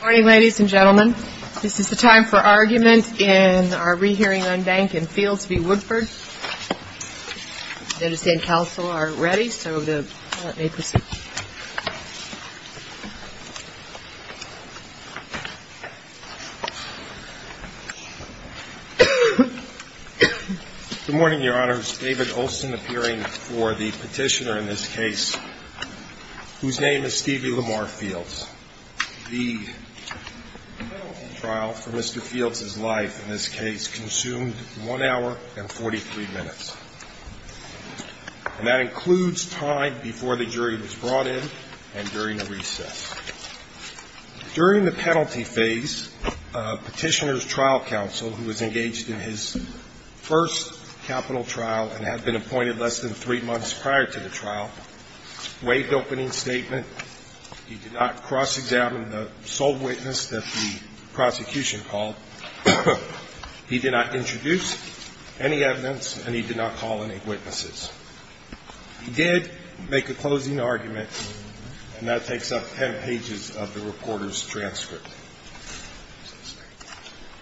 Morning, ladies and gentlemen. This is the time for argument in our re-hearing on Bank and Fields v. Woodford. I understand counsel are ready, so let me proceed. Good morning, Your Honors. David Olson appearing for the petitioner in this case, whose name is Stevie Lamar Fields. The penalty trial for Mr. Fields' life in this case consumed one hour and 43 minutes. And that includes time before the jury was brought in and during the recess. During the penalty phase, Petitioner's Trial Counsel, who was engaged in his first capital trial and had been appointed less than three months prior to the trial, waived the opening statement. He did not cross-examine the sole witness that the prosecution called. He did not introduce any evidence, and he did not call any witnesses. He did make a closing argument, and that takes up ten pages of the reporter's transcript.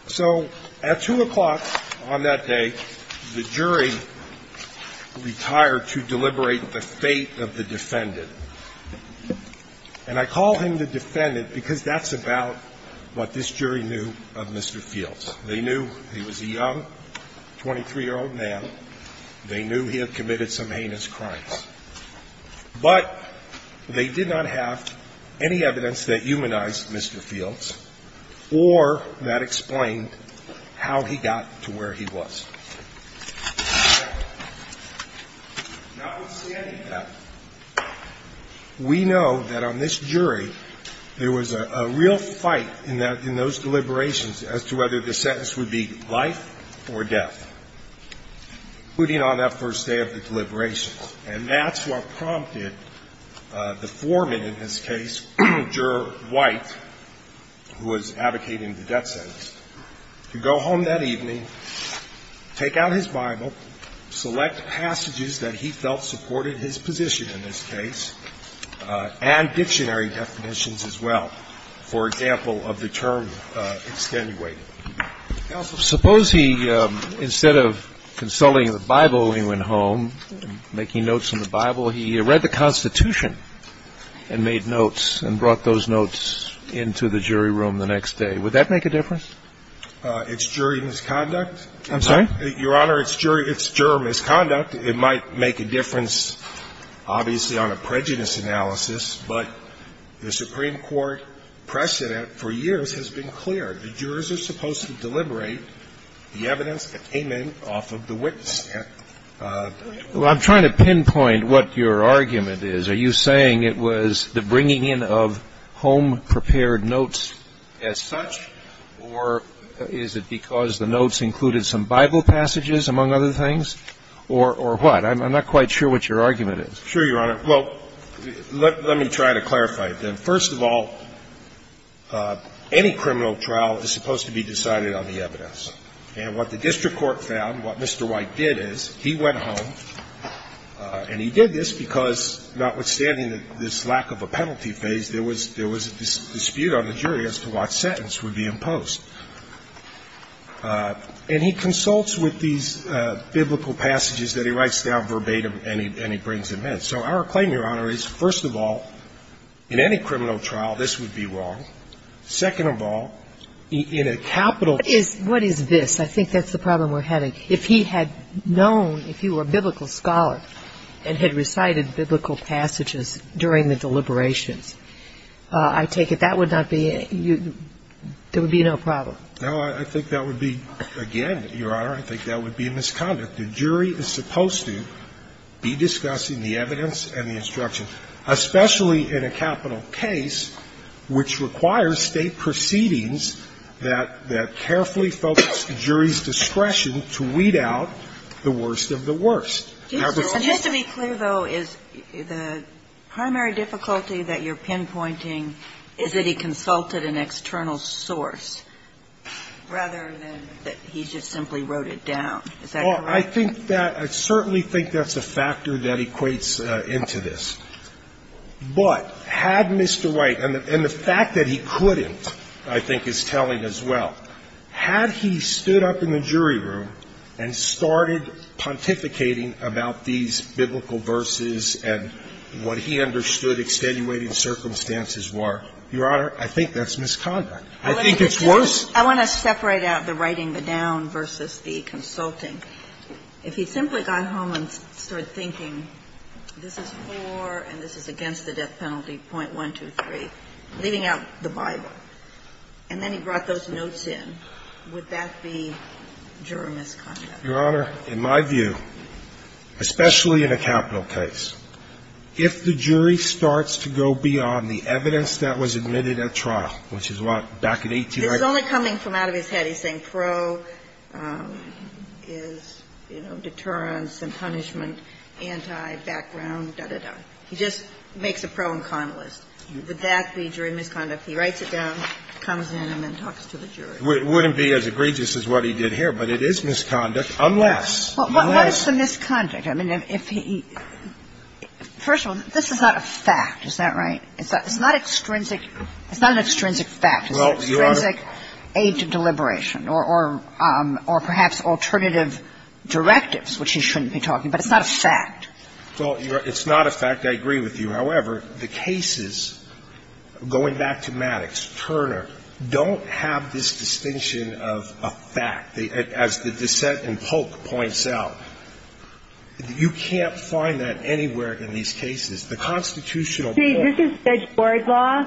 So at 2 o'clock on that day, the jury retired to deliberate the fate of the defendant. And I call him the defendant because that's about what this jury knew of Mr. Fields. They knew he was a young, 23-year-old man. They knew he had committed some heinous crimes. But they did not have any evidence that humanized Mr. Fields or that explained how he got to where he was. Now, with standing that, we know that on this jury, there was a real fight in those deliberations as to whether the sentence would be life or death, including on that first day of the deliberations. And that's what prompted the foreman in this case, Juror White, who was advocating the death sentence, to go home that evening, take out his Bible, select passages that he felt supported his position in this case, and dictionary definitions as well, for example, of the term extenuating. Suppose he, instead of consulting the Bible, he went home, making notes on the Bible. He read the Constitution and made notes and brought those notes into the jury room the next day. Would that make a difference? It's jury misconduct. I'm sorry? Your Honor, it's jury misconduct. It might make a difference, obviously, on a prejudice analysis, but the Supreme Court precedent for years has been clear. The jurors are supposed to deliberate the evidence that came in off of the witness stand. Well, I'm trying to pinpoint what your argument is. Are you saying it was the bringing in of home-prepared notes as such, or is it because the notes included some Bible passages, among other things? Or what? I'm not quite sure what your argument is. Sure, Your Honor. Well, let me try to clarify it, then. First of all, any criminal trial is supposed to be decided on the evidence. And what the district court found, what Mr. White did is, he went home, and he did this because, notwithstanding this lack of a penalty phase, there was a dispute on the jury as to what sentence would be imposed. And he consults with these biblical passages that he writes down verbatim and he brings them in. So our claim, Your Honor, is that if there was a criminal trial, this would be wrong. Second of all, in a capital case ---- What is this? I think that's the problem we're having. If he had known, if he were a biblical scholar and had recited biblical passages during the deliberations, I take it that would not be a ---- there would be no problem. No, I think that would be, again, Your Honor, I think that would be a misconduct. The jury is supposed to be discussing the evidence and the instruction, especially in a capital case which requires State proceedings that carefully focus the jury's discretion to weed out the worst of the worst. And just to be clear, though, is the primary difficulty that you're pinpointing is that he consulted an external source rather than that he just simply wrote it down. Is that correct? I think that ---- I certainly think that's a factor that equates into this. But had Mr. White ---- and the fact that he couldn't, I think, is telling as well. Had he stood up in the jury room and started pontificating about these biblical verses and what he understood extenuating circumstances were, Your Honor, I think that's misconduct. I think it's worse. I want to separate out the writing the down versus the consulting. If he simply got home and started thinking, this is for and this is against the death penalty, .123, leaving out the Bible, and then he brought those notes in, would that be juror misconduct? Your Honor, in my view, especially in a capital case, if the jury starts to go beyond the evidence that was admitted at trial, which is what back in 1880 ---- This is only coming from out of his head. He's saying pro is, you know, deterrence and punishment, anti, background, da, da, da. He just makes a pro and con list. Would that be jury misconduct? He writes it down, comes in, and then talks to the jury. It wouldn't be as egregious as what he did here, but it is misconduct unless ---- Well, what is the misconduct? I mean, if he ---- first of all, this is not a fact. Is that right? It's not extrinsic. It's not an extrinsic fact. It's an extrinsic aid to deliberation or perhaps alternative directives, which he shouldn't be talking about. It's not a fact. Well, it's not a fact. I agree with you. However, the cases, going back to Maddox, Turner, don't have this distinction of a fact. As the dissent in Polk points out, you can't find that anywhere in these cases. The constitutional ---- See, this is Judge Boardlaw.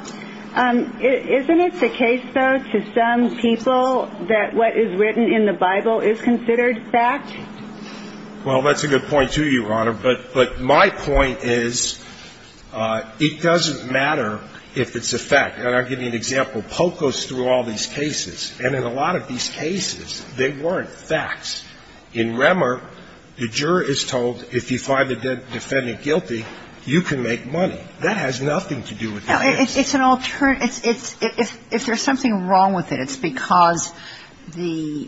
Isn't it the case, though, to some people that what is written in the Bible is considered fact? Well, that's a good point, too, Your Honor, but my point is it doesn't matter if it's a fact. And I'll give you an example. Polk goes through all these cases, and in a lot of these cases, they weren't facts. In Remmer, the juror is told if you find the defendant guilty, you can make money. That has nothing to do with the case. It's an alternative. If there's something wrong with it, it's because the ----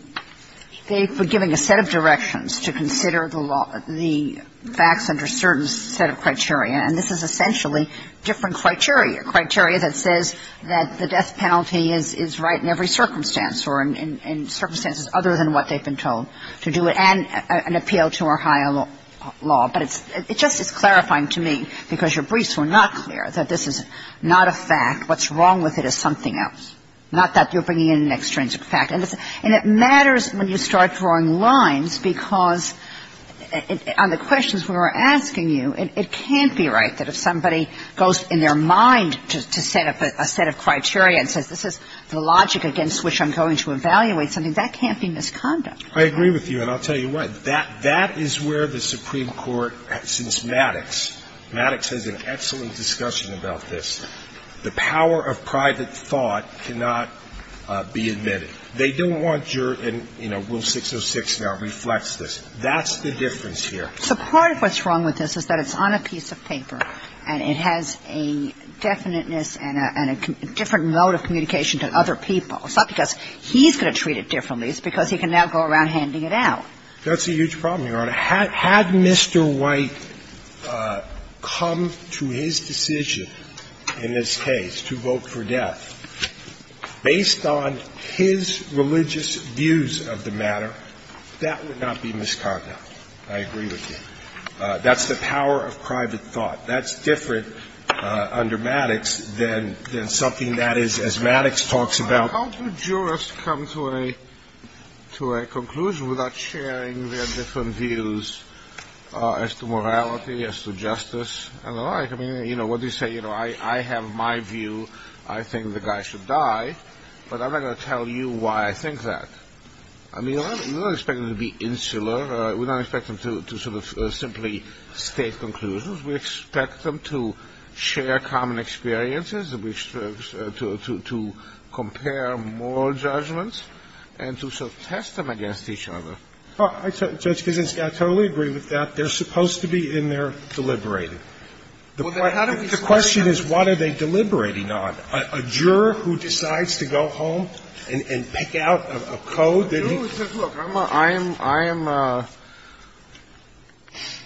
they've been given a set of directions to consider the facts under a certain set of criteria, and this is essentially different criteria, criteria that says that the death penalty is right in every circumstance or in circumstances other than what they've been told to do, and an appeal to Ohio law. But it's just as clarifying to me, because your briefs were not clear, that this is not a fact. What's wrong with it is something else, not that you're bringing in an extrinsic fact. And it matters when you start drawing lines, because on the questions we were asking you, it can't be right that if somebody goes in their mind to set up a set of criteria and says this is the logic against which I'm going to evaluate something, that can't be misconduct. I agree with you, and I'll tell you why. That is where the Supreme Court, since Maddox, Maddox has an excellent discussion about this. The power of private thought cannot be admitted. They don't want your ---- and, you know, Rule 606 now reflects this. That's the difference here. So part of what's wrong with this is that it's on a piece of paper, and it has a definiteness and a different mode of communication to other people. It's not because he's going to treat it differently. It's because he can now go around handing it out. That's a huge problem, Your Honor. Had Mr. White come to his decision in this case to vote for death based on his religious views of the matter, that would not be misconduct, I agree with you. That's the power of private thought. That's different under Maddox than something that is, as Maddox talks about. How do jurists come to a conclusion without sharing their different views as to morality, as to justice, and the like? You know, what do you say? You know, I have my view, I think the guy should die, but I'm not going to tell you why I think that. I mean, we're not expecting him to be insular. We're not expecting him to sort of simply state conclusions. We expect them to share common experiences, to compare moral judgments, and to sort of test them against each other. Well, Judge Kizinski, I totally agree with that. They're supposed to be in there deliberating. The question is, what are they deliberating on? A juror who decides to go home and pick out a code that he... Look, I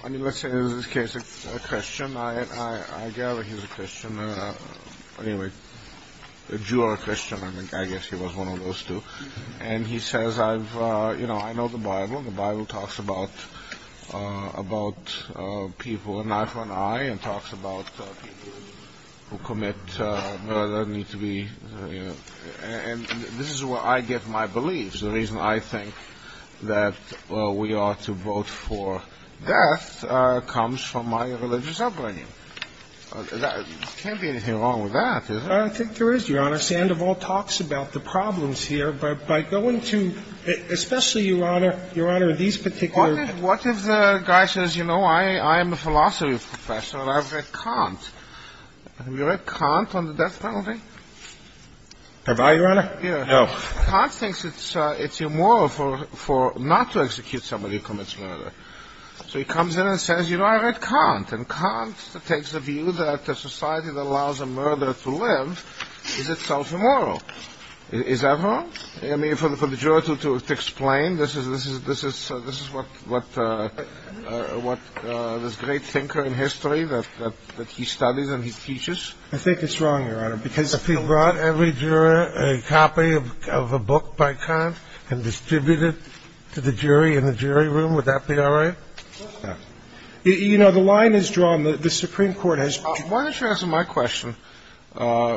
am, let's say in this case, a Christian. I gather he's a Christian. Anyway, a juror Christian. I guess he was one of those two. And he says, you know, I know the Bible. The Bible talks about people, an eye for an eye, and talks about people who commit... And this is where I get my beliefs. The reason I think that we ought to vote for death comes from my religious upbringing. There can't be anything wrong with that, is there? I think there is, Your Honor. Sandoval talks about the problems here. But by going to, especially, Your Honor, these particular... What if the guy says, you know, I am a philosophy professor, and I've read Kant? Have you read Kant on the death penalty? Have I, Your Honor? No. Kant thinks it's immoral not to execute somebody who commits murder. So he comes in and says, you know, I read Kant. And Kant takes the view that a society that allows a murderer to live is itself immoral. Is that wrong? I mean, for the juror to explain, this is what this great thinker in history, that he studies and he teaches? I think it's wrong, Your Honor. Because if he brought every juror a copy of a book by Kant and distributed it to the jury in the jury room, would that be all right? You know, the line is drawn. The Supreme Court has... Why don't you answer my question? I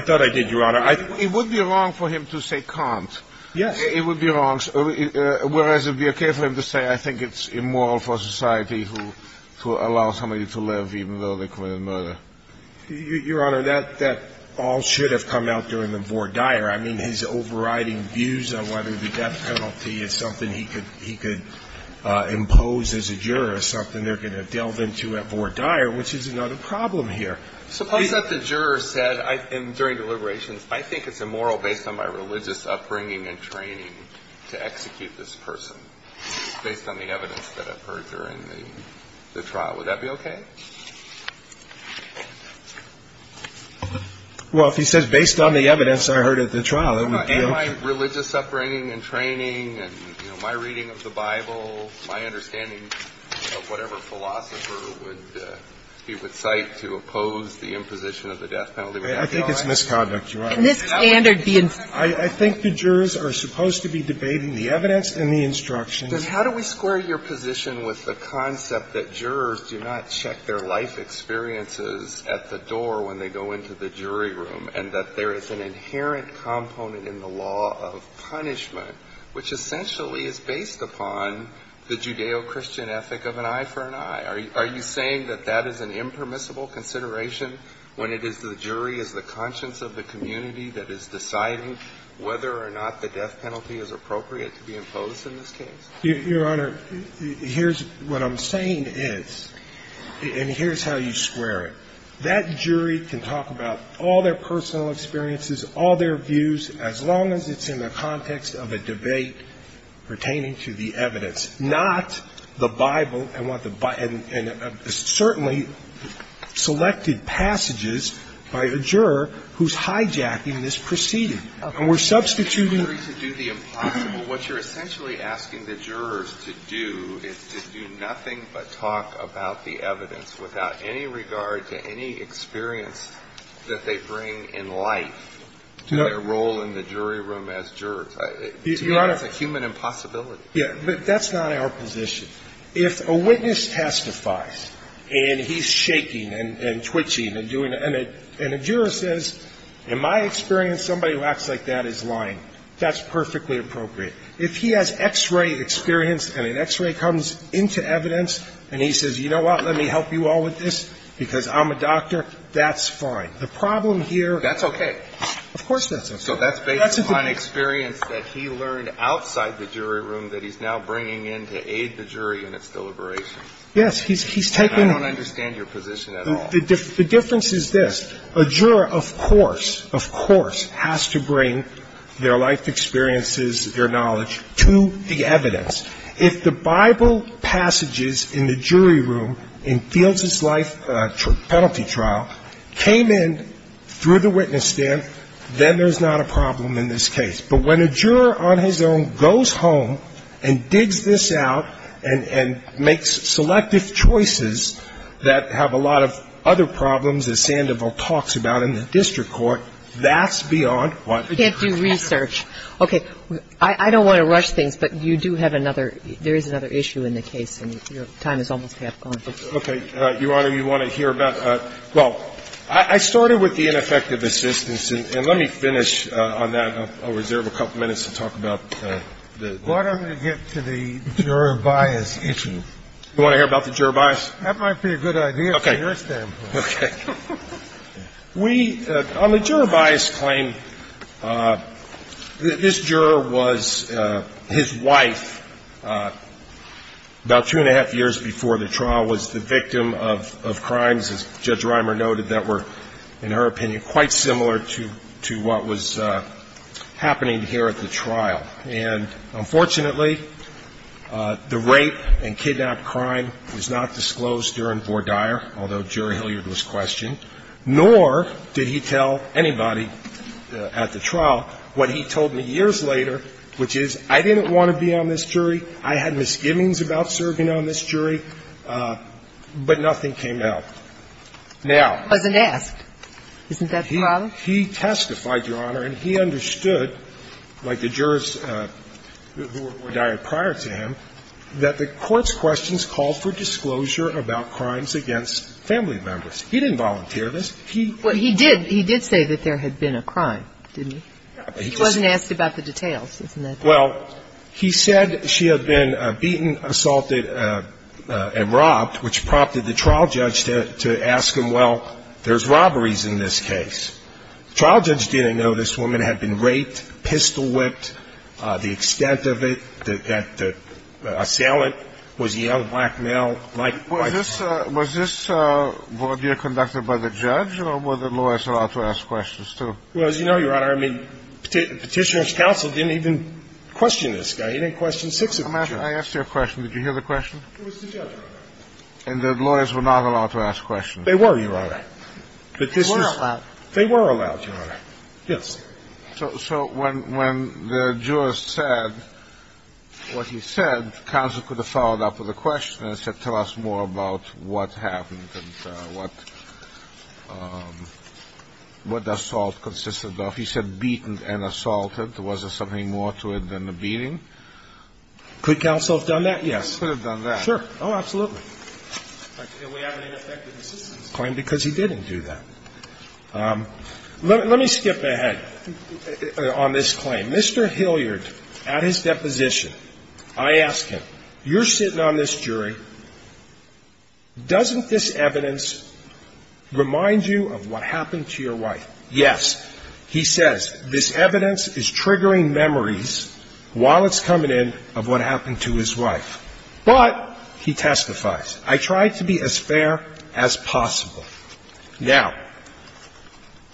thought I did, Your Honor. It would be wrong for him to say Kant. Yes. It would be wrong. Whereas it would be okay for him to say, I think it's immoral for society to allow somebody to live even though they committed murder. Your Honor, that all should have come out during the vor dire. I mean, he's overriding views on whether the death penalty is something he could impose as a juror, something they're going to delve into at vor dire, which is another problem here. Suppose that the juror said during deliberations, I think it's immoral based on my religious upbringing and training to execute this person, based on the evidence that I've heard during the trial. Would that be okay? Well, if he says, based on the evidence I heard at the trial, it would be okay. My religious upbringing and training and, you know, my reading of the Bible, my understanding of whatever philosopher he would cite to oppose the imposition of the death penalty would not be all right. I think it's misconduct, Your Honor. Can this standard be... I think the jurors are supposed to be debating the evidence and the instructions. How do we square your position with the concept that jurors do not check their life experiences at the door when they go into the jury room and that there is an inherent component in the law of punishment, which essentially is based upon the Judeo-Christian ethic of an eye for an eye? Are you saying that that is an impermissible consideration when it is the jury, is the conscience of the community that is deciding whether or not the death penalty is appropriate to be imposed in this case? Your Honor, here's what I'm saying is, and here's how you square it. That jury can talk about all their personal experiences, all their views, as long as it's in the context of a debate pertaining to the evidence, not the Bible and what the by – and certainly selected passages by a juror who's hijacking this proceeding. And we're substituting... I'm not asking the jury to do the impossible. What you're essentially asking the jurors to do is to do nothing but talk about the evidence without any regard to any experience that they bring in life to their role in the jury room as jurors. Your Honor... It's a human impossibility. Yeah, but that's not our position. If a witness testifies and he's shaking and twitching and doing it, and a juror says, in my experience, somebody who acts like that is lying, that's perfectly appropriate. If he has X-ray experience and an X-ray comes into evidence, and he says, you know what, let me help you all with this because I'm a doctor, that's fine. The problem here... That's okay. Of course that's okay. So that's based on experience that he learned outside the jury room that he's now bringing in to aid the jury in its deliberation. Yes. He's taking... I don't understand your position at all. The difference is this. A juror, of course, of course has to bring their life experiences, their knowledge to the evidence. If the Bible passages in the jury room in Fields' life penalty trial came in through the witness stamp, then there's not a problem in this case. But when a juror on his own goes home and digs this out and makes selective choices that have a lot of other problems that Sandoval talks about in the district court, that's beyond what... You can't do research. Okay. I don't want to rush things, but you do have another – there is another issue in the case, and your time is almost half gone. Okay. Your Honor, you want to hear about – well, I started with the ineffective assistance, and let me finish on that. I'll reserve a couple minutes to talk about the... Why don't we get to the juror bias issue? You want to hear about the juror bias? That might be a good idea from your standpoint. Okay. Okay. We – on the juror bias claim, this juror was – his wife, about two-and-a-half years before the trial, was the victim of crimes, as Judge Reimer noted, that were, in her opinion, quite similar to what was happening here at the trial. And, unfortunately, the rape and kidnap crime was not disclosed during Vore Dyer, although Jury Hilliard was questioned, nor did he tell anybody at the trial what he told me years later, which is, I didn't want to be on this jury, I had misgivings about serving on this jury, but nothing came out. Now... He wasn't asked. Isn't that the problem? He testified, Your Honor, and he understood, like the jurors who were at Vore Dyer prior to him, that the court's questions called for disclosure about crimes against family members. He didn't volunteer this. He... Well, he did. He did say that there had been a crime, didn't he? He wasn't asked about the details. Isn't that the problem? Well, he said she had been beaten, assaulted, and robbed, which prompted the trial judge to ask him, well, there's robberies in this case. The trial judge didn't know this woman had been raped, pistol-whipped, the extent of it, that the assailant was a young, black male, white... Was this Vore Dyer conducted by the judge, or were the lawyers allowed to ask questions too? Well, as you know, Your Honor, I mean, Petitioner's counsel didn't even question this guy. He didn't question six of the judges. I asked you a question. Did you hear the question? It was the judge. And the lawyers were not allowed to ask questions? They were, Your Honor. But this is... They were allowed. They were allowed, Your Honor. Yes. So when the jurist said what he said, counsel could have followed up with a question and said, tell us more about what happened and what the assault consisted of. He said beaten and assaulted. Was there something more to it than the beating? Could counsel have done that? Yes. Counsel could have done that. Sure. Oh, absolutely. And we have an ineffective assistance claim because he didn't do that. Let me skip ahead on this claim. Mr. Hilliard, at his deposition, I ask him, you're sitting on this jury. Doesn't this evidence remind you of what happened to your wife? Yes. He says this evidence is triggering memories while it's coming in of what happened to his wife. But he testifies. I try to be as fair as possible. Now,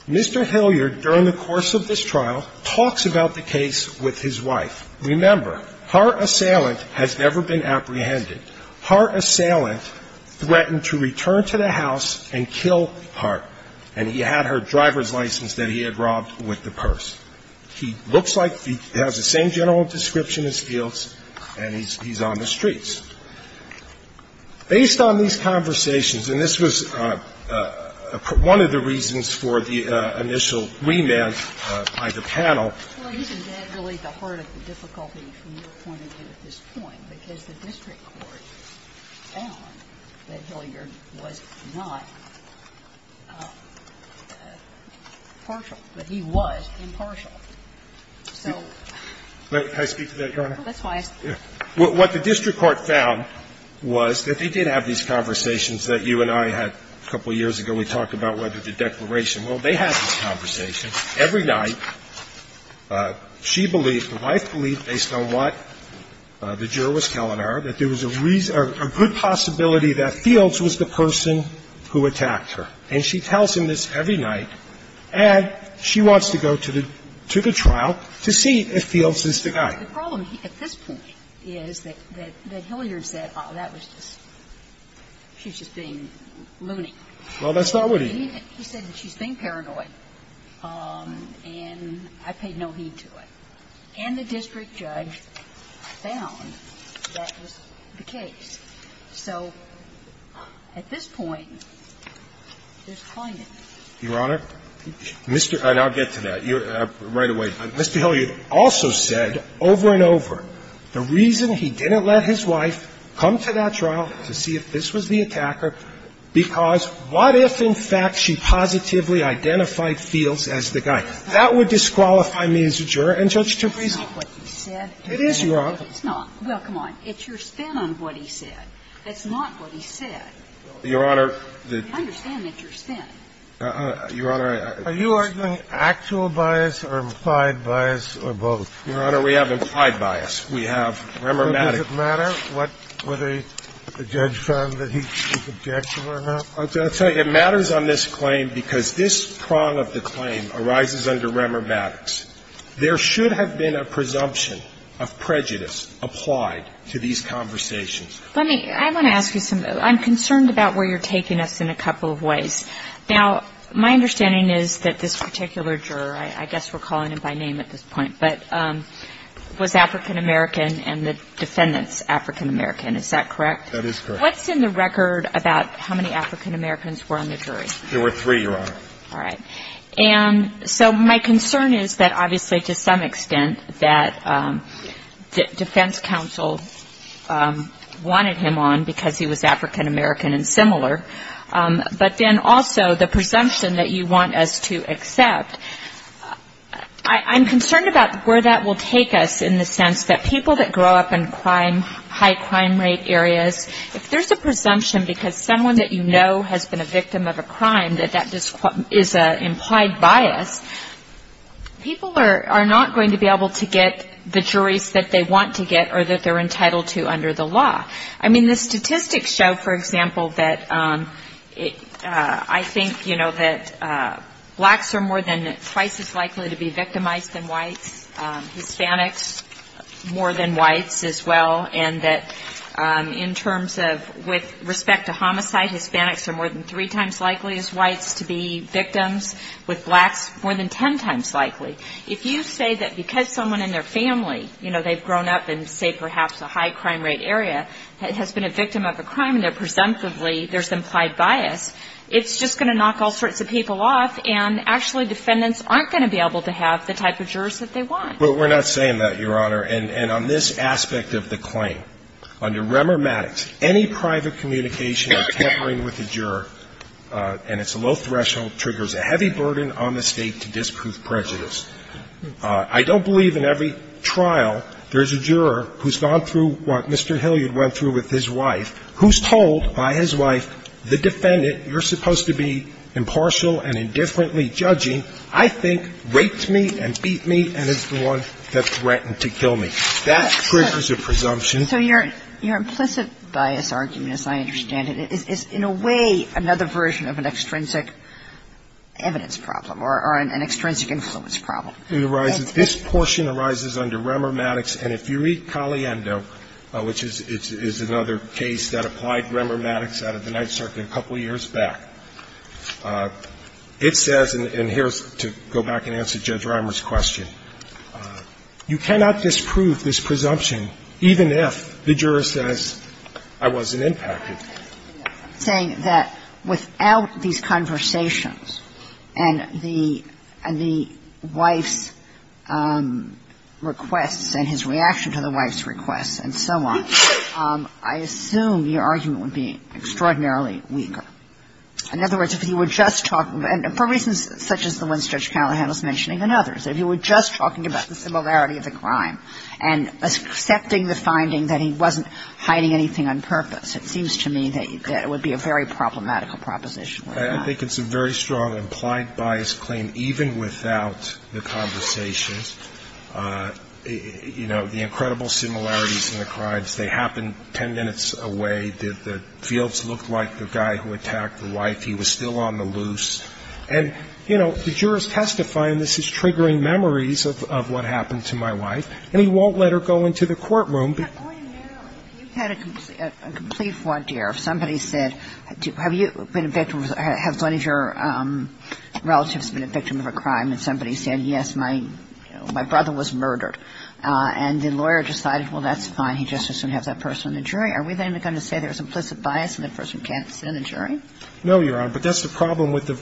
Mr. Hilliard, during the course of this trial, talks about the case with his wife. Remember, her assailant has never been apprehended. Her assailant threatened to return to the house and kill her, and he had her driver's license that he had robbed with the purse. He looks like he has the same general description as Fields, and he's on the streets. Based on these conversations, and this was one of the reasons for the initial remand by the panel. Well, isn't that really the heart of the difficulty from your point of view at this point, because the district court found that Hilliard was not partial, but he was impartial. So. May I speak to that, Your Honor? Well, that's why I asked. What the district court found was that they did have these conversations that you and I had a couple years ago. We talked about whether the declaration will. They have these conversations. Every night, she believed, the wife believed, based on what the juror was telling her, that there was a reason or a good possibility that Fields was the person who attacked her, and she tells him this every night, and she wants to go to the trial to see if Fields is the guy. The problem at this point is that Hilliard said, oh, that was just, she's just being Well, that's not what he did. He said that she's being paranoid, and I paid no heed to it. And the district judge found that was the case. So at this point, there's climate. Your Honor, Mr. And I'll get to that right away. Mr. Hilliard also said over and over the reason he didn't let his wife come to that trial was because he didn't believe that she positively identified Fields as the guy. That would disqualify me as a juror and judge to present. It is, Your Honor. It's not. Well, come on. It's your spin on what he said. That's not what he said. Your Honor. I understand that's your spin. Your Honor, I Are you arguing actual bias or implied bias or both? Your Honor, we have implied bias. We have. It's just not. Okay. Remormatic. Does it matter what the judge found that he's objectionable or not? I'm going to tell you, it matters on this claim because this prong of the claim arises under Remormatics. There should have been a presumption of prejudice applied to these conversations. Let me ask you something. I'm concerned about where you're taking us in a couple of ways. Now, my understanding is that this particular juror, I guess we're calling him by name at this point, but was African-American and the defendants African-American. Is that correct? That is correct. What's in the record about how many African-Americans were on the jury? There were three, Your Honor. All right. And so my concern is that obviously to some extent that defense counsel wanted him on because he was African-American and similar, but then also the presumption that you want us to accept, I'm concerned about where that will take us in the sense that people that grow up in crime, high crime rate areas, if there's a presumption because someone that you know has been a victim of a crime, that that is an implied bias, people are not going to be able to get the juries that they want to get or that they're entitled to under the law. I mean, the statistics show, for example, that I think, you know, that blacks are more than twice as likely to be victimized than whites, Hispanics more than whites as well, and that in terms of with respect to homicide, Hispanics are more than three times likely as whites to be victims, with blacks more than ten times likely. If you say that because someone in their family, you know, they've grown up in say perhaps a high crime rate area has been a victim of a crime and that presumptively there's implied bias, it's just going to knock all sorts of people off and actually defendants aren't going to be able to have the type of jurors that they want. But we're not saying that, Your Honor, and on this aspect of the claim, under Remer Maddox, any private communication or tampering with the juror, and it's a low threshold, triggers a heavy burden on the State to disprove prejudice. I don't believe in every trial there's a juror who's gone through what Mr. Hilliard went through with his wife, who's told by his wife, the defendant you're supposed to be impartial and indifferently judging, I think, raped me and beat me and is the one that threatened to kill me. That triggers a presumption. So your implicit bias argument, as I understand it, is in a way another version of an extrinsic evidence problem or an extrinsic influence problem. This portion arises under Remer Maddox. And if you read Caliendo, which is another case that applied Remer Maddox out of the Ninth Circuit a couple years back, it says, and here's to go back and answer Judge Callahan, if the juror says, I wasn't impacted. Saying that without these conversations and the wife's requests and his reaction to the wife's requests and so on, I assume your argument would be extraordinarily weaker. In other words, if you were just talking, and for reasons such as the ones Judge Callahan was mentioning and others, if you were just talking about the similarity of the crime and accepting the finding that he wasn't hiding anything on purpose, it seems to me that it would be a very problematical proposition. I think it's a very strong implied bias claim, even without the conversations. You know, the incredible similarities in the crimes. They happened ten minutes away. Did the fields look like the guy who attacked the wife? He was still on the loose. And, you know, the jurors testify, and this is triggering memories of what happened to my wife, and he won't let her go into the courtroom. Kagan. You've had a complete fraud, dear. If somebody said, have you been a victim, have one of your relatives been a victim of a crime, and somebody said, yes, my brother was murdered, and the lawyer decided, well, that's fine. He just has to have that person in the jury. Are we then going to say there's implicit bias and that person can't sit in the jury? No, Your Honor. But that's the problem with the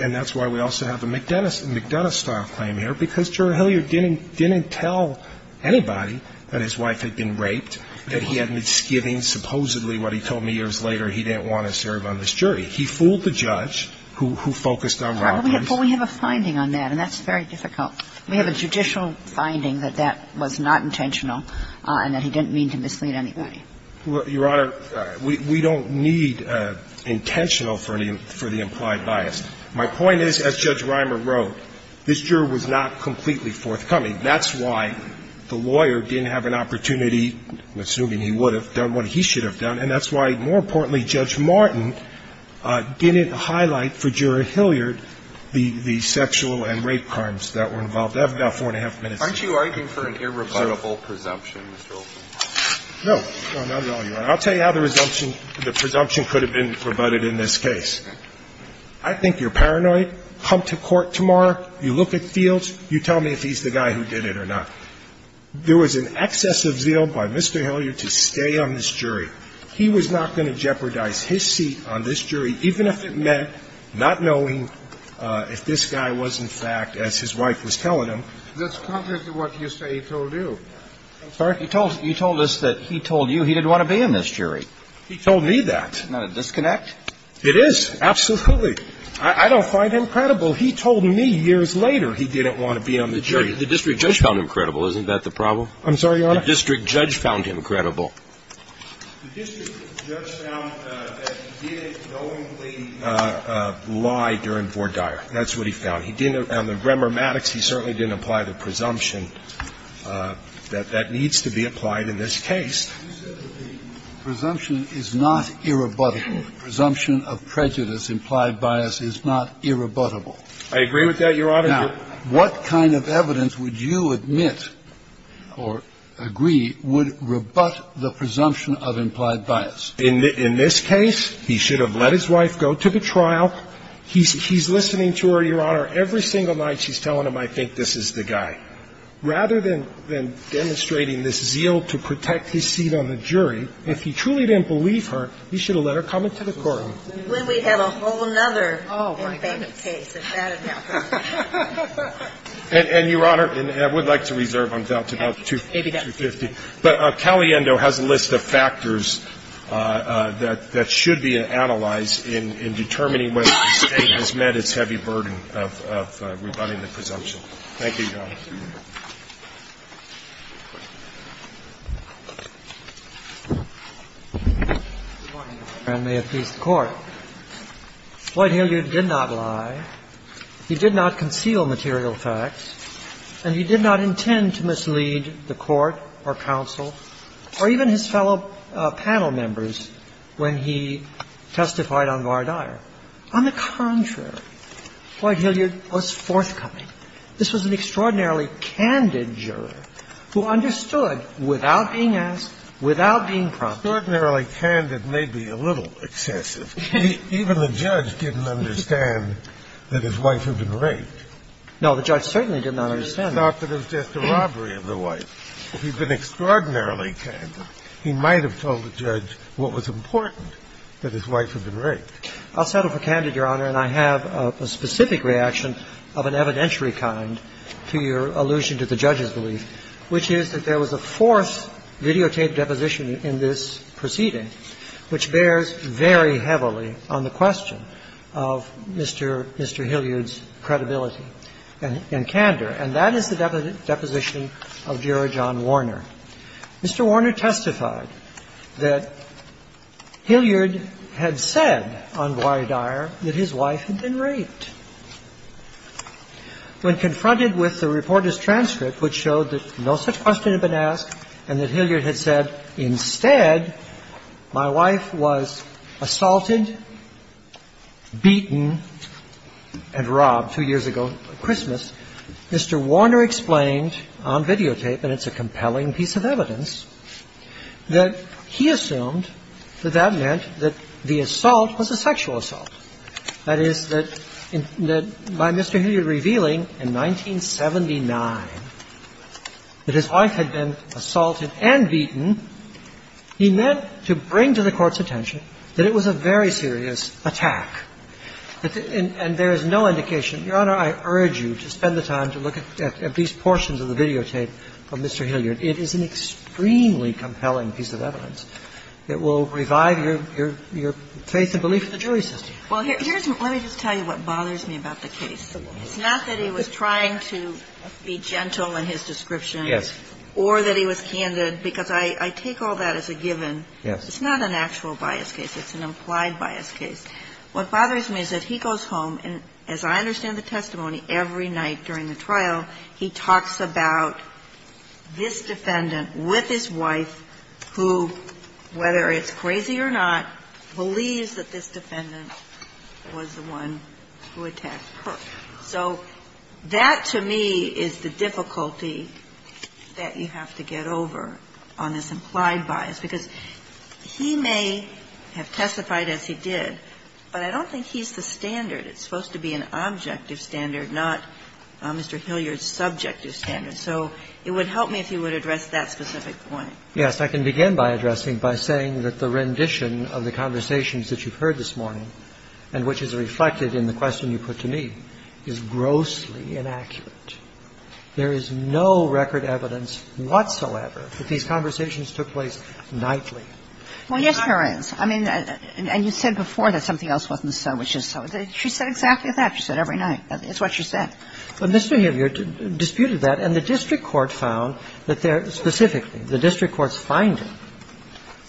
– and that's why we also have a McDonough-style claim here, because Juror Hilliard didn't tell anybody that his wife had been raped, that he had misgivings. Supposedly, what he told me years later, he didn't want to serve on this jury. He fooled the judge, who focused on Robbins. But we have a finding on that, and that's very difficult. We have a judicial finding that that was not intentional and that he didn't mean to mislead anybody. Your Honor, we don't need intentional for the implied bias. My point is, as Judge Reimer wrote, this juror was not completely forthcoming. That's why the lawyer didn't have an opportunity, assuming he would have done what he should have done, and that's why, more importantly, Judge Martin didn't highlight for Juror Hilliard the sexual and rape crimes that were involved. I have about four and a half minutes. Aren't you arguing for an irrebuttable presumption, Mr. Olson? No. No, not at all, Your Honor. I'll tell you how the presumption could have been rebutted in this case. I think you're paranoid. Come to court tomorrow. You look at Fields. You tell me if he's the guy who did it or not. There was an excess of zeal by Mr. Hilliard to stay on this jury. He was not going to jeopardize his seat on this jury, even if it meant not knowing if this guy was, in fact, as his wife was telling him. That's contrary to what you say he told you. I'm sorry? You told us that he told you he didn't want to be in this jury. He told me that. Isn't that a disconnect? It is. Absolutely. I don't find him credible. He told me years later he didn't want to be on the jury. The district judge found him credible. Isn't that the problem? I'm sorry, Your Honor? The district judge found him credible. The district judge found that he didn't knowingly lie during Vore Dyer. That's what he found. He didn't, on the grammar mattocks, he certainly didn't apply the presumption that that needs to be applied in this case. You said that the presumption is not irrebuttable. The presumption of prejudice, implied bias, is not irrebuttable. I agree with that, Your Honor. Now, what kind of evidence would you admit or agree would rebut the presumption of implied bias? In this case, he should have let his wife go to the trial. He's listening to her, Your Honor. Every single night she's telling him, I think this is the guy. Rather than demonstrating this zeal to protect his seat on the jury, if he truly didn't believe her, he should have let her come into the courtroom. Well, we'd have a whole other case if that had happened. And, Your Honor, and I would like to reserve on doubt to about 250, but Caliendo has a list of factors that should be analyzed in determining whether the State has met its heavy burden of rebutting the presumption. Thank you, Your Honor. Good morning, Your Honor, and may it please the Court. Floyd Hilliard did not lie. He did not conceal material facts, and he did not intend to mislead the Court or counsel or even his fellow panel members when he testified on Vardyar. On the contrary, Floyd Hilliard was forthcoming. This was an extraordinarily candid juror who understood without being asked, without being prompted. Extraordinarily candid may be a little excessive. Even the judge didn't understand that his wife had been raped. No, the judge certainly did not understand that. He thought that it was just a robbery of the wife. If he'd been extraordinarily candid, he might have told the judge what was important, that his wife had been raped. I'll settle for candid, Your Honor, and I have a specific reaction of an evidentiary kind to your allusion to the judge's belief, which is that there was a forced videotaped deposition in this proceeding which bears very heavily on the question of Mr. Hilliard's credibility and candor, and that is the deposition of Juror John Warner. Mr. Warner testified that Hilliard had said on Vardyar that his wife had been raped. When confronted with the reporter's transcript, which showed that no such question had been asked and that Hilliard had said, instead, my wife was assaulted, beaten and robbed two years ago at Christmas, Mr. Warner explained on videotape and it's a compelling piece of evidence, that he assumed that that meant that the assault was a sexual assault. That is, that by Mr. Hilliard revealing in 1979 that his wife had been assaulted and beaten, he meant to bring to the Court's attention that it was a very serious attack. And there is no indication, Your Honor, I urge you to spend the time to look at these portions of the videotape of Mr. Hilliard. It is an extremely compelling piece of evidence. It will revive your faith and belief in the jury system. Well, let me just tell you what bothers me about the case. It's not that he was trying to be gentle in his description. Yes. Or that he was candid, because I take all that as a given. Yes. It's not an actual bias case. It's an implied bias case. What bothers me is that he goes home, and as I understand the testimony, every night during the trial, he talks about this defendant with his wife who, whether it's crazy or not, believes that this defendant was the one who attacked her. So that, to me, is the difficulty that you have to get over on this implied bias, because he may have testified as he did, but I don't think he's the standard. It's supposed to be an objective standard, not Mr. Hilliard's subjective standard. So it would help me if you would address that specific point. Yes. I can begin by addressing by saying that the rendition of the conversations that you've heard this morning and which is reflected in the question you put to me is grossly inaccurate. There is no record evidence whatsoever that these conversations took place nightly. Well, yes, there is. I mean, and you said before that something else wasn't so, which is so. She said exactly that. She said every night. That's what she said. But Mr. Hilliard disputed that, and the district court found that there, specifically, the district court's finding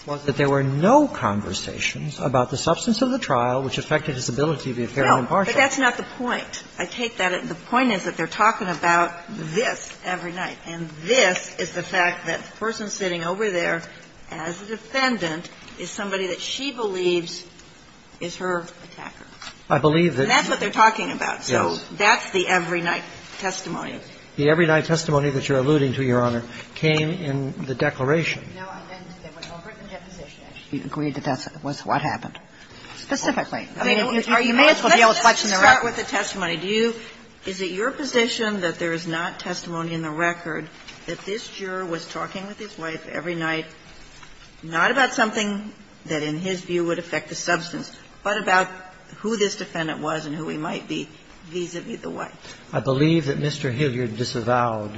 was that there were no conversations about the substance of the trial which affected his ability to be fair and impartial. No, but that's not the point. I take that. The point is that they're talking about this every night, and this is the fact that the person sitting over there as a defendant is somebody that she believes is her attacker. I believe that. And that's what they're talking about. So that's the every-night testimony. The every-night testimony that you're alluding to, Your Honor, came in the declaration. No, I meant there was no written deposition. You agreed that that was what happened. Specifically. I mean, you may as well be able to question the record. Let's just start with the testimony. Do you – is it your position that there is not testimony in the record that this defendant was talking with his wife every night, not about something that, in his view, would affect the substance, but about who this defendant was and who he might be vis-a-vis the wife? I believe that Mr. Hilliard disavowed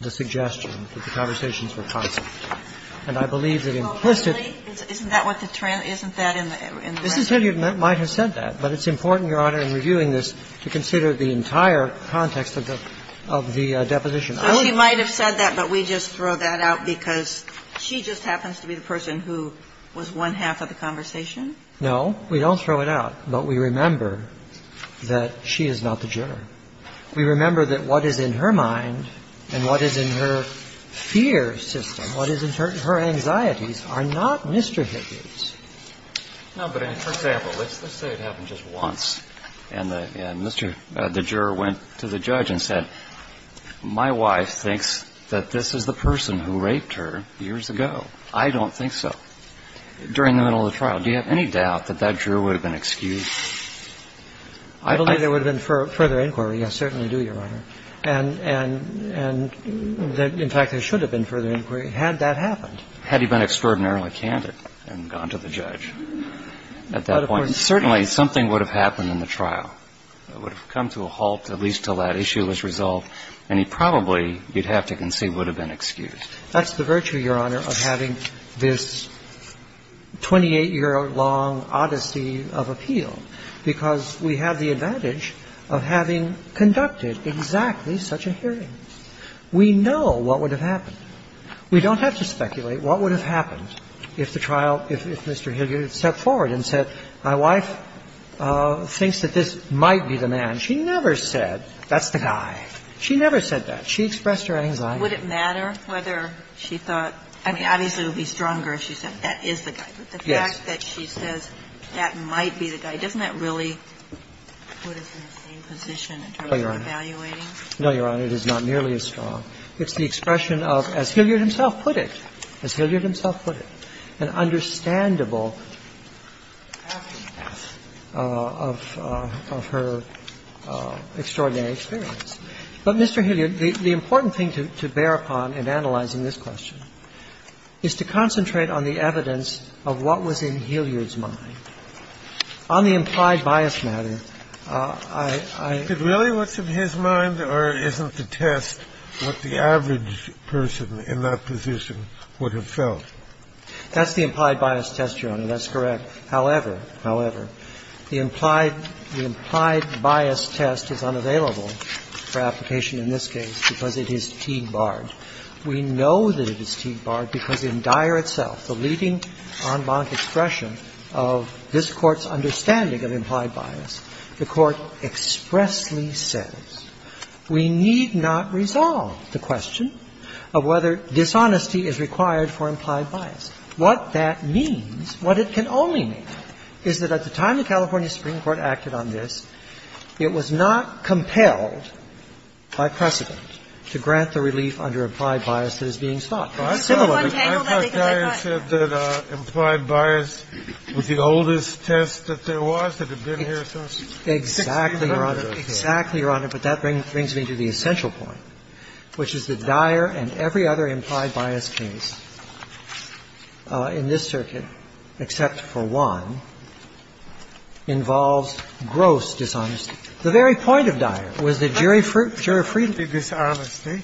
the suggestion that the conversations were constant. And I believe that it enclosed it. Isn't that what the trend – isn't that in the record? Mrs. Hilliard might have said that, but it's important, Your Honor, in reviewing this, to consider the entire context of the – of the deposition. So she might have said that, but we just throw that out because she just happens to be the person who was one half of the conversation? No. We don't throw it out. But we remember that she is not the juror. We remember that what is in her mind and what is in her fear system, what is in her anxieties, are not Mr. Hilliard's. No, but for example, let's say it happened just once, and the – and Mr. – the juror went to the judge and said, my wife thinks that this is the person who raped her years ago. I don't think so. During the middle of the trial, do you have any doubt that that juror would have been excused? I don't think there would have been further inquiry. I certainly do, Your Honor. And – and – and in fact, there should have been further inquiry had that happened. Had he been extraordinarily candid and gone to the judge at that point, certainly something would have happened in the trial. It would have come to a halt at least until that issue was resolved, and he probably – you'd have to concede – would have been excused. That's the virtue, Your Honor, of having this 28-year-long odyssey of appeal, because we have the advantage of having conducted exactly such a hearing. We know what would have happened. We don't have to speculate what would have happened if the trial – if Mr. Hilliard had stepped forward and said, my wife thinks that this might be the man. She never said, that's the guy. She never said that. She expressed her anxiety. Would it matter whether she thought – I mean, obviously, it would be stronger if she said, that is the guy. Yes. But the fact that she says, that might be the guy, doesn't that really put us in the same position in terms of evaluating? No, Your Honor. It is not nearly as strong. It's the expression of, as Hilliard himself put it, as Hilliard himself put it, an understandable aftermath of her extraordinary experience. But, Mr. Hilliard, the important thing to bear upon in analyzing this question is to concentrate on the evidence of what was in Hilliard's mind. Kennedy, is it really what's in his mind, or isn't the test what the average person in that position would have felt? That's the implied bias test, Your Honor. That's correct. However, however, the implied – the implied bias test is unavailable for application in this case because it is Teague-barred. We know that it is Teague-barred because in Dyer itself, the leading en banc expression of this Court's understanding of implied bias, the Court expressly says, we need not resolve the question of whether dishonesty is required for implied bias. What that means, what it can only mean, is that at the time the California Supreme Court acted on this, it was not compelled by precedent to grant the relief under implied bias that is being sought. I thought Dyer said that implied bias was the oldest test that there was, that had been here since 1611 or something. Exactly, Your Honor, but that brings me to the essential point, which is that Dyer and every other implied bias case in this circuit, except for one, involves gross dishonesty. The very point of Dyer was that jury freedom. The dishonesty,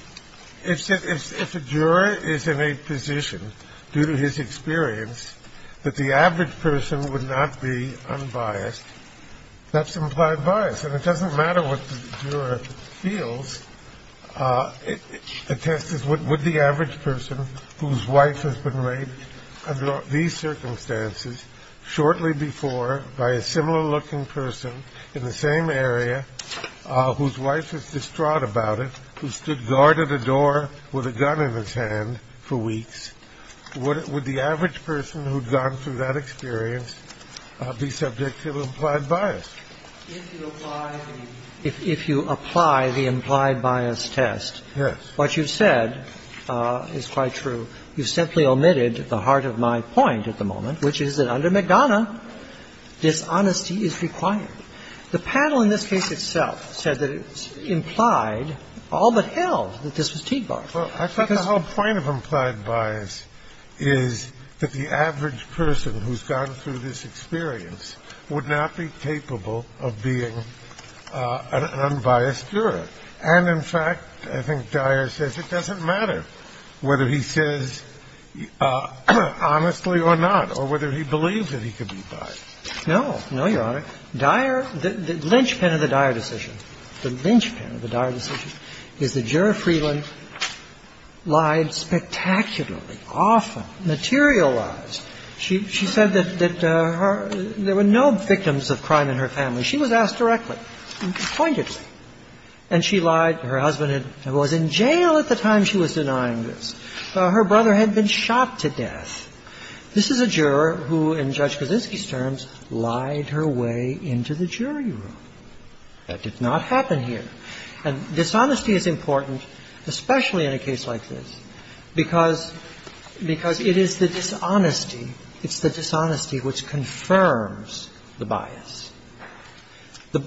if a juror is in a position, due to his experience, that the average person would not be unbiased, that's implied bias. And it doesn't matter what the juror feels. A test is would the average person whose wife has been raped under these circumstances shortly before by a similar-looking person in the same area whose wife is distraught about it, who stood guard at a door with a gun in his hand for weeks, would the average person who had gone through that experience be subject to implied bias? If you apply the implied bias test, what you've said is quite true. You've simply omitted the heart of my point at the moment, which is that under McDonough, dishonesty is required. The panel in this case itself said that it implied, all but held, that this was teed barf. Because the whole point of implied bias is that the average person who's gone through this experience would not be capable of being an unbiased juror. And, in fact, I think Dyer says it doesn't matter whether he says honestly or not, or whether he believes that he could be biased. No. No, Your Honor. Dyer – the linchpin of the Dyer decision, the linchpin of the Dyer decision is that Juror Freeland lied spectacularly, often, materialized. She said that her – there were no victims of crime in her family. She was asked directly and pointedly. And she lied. Her husband was in jail at the time she was denying this. Her brother had been shot to death. This is a juror who, in Judge Kaczynski's terms, lied her way into the jury room. That did not happen here. And dishonesty is important, especially in a case like this, because – because it is the dishonesty – it's the dishonesty which confirms the bias. The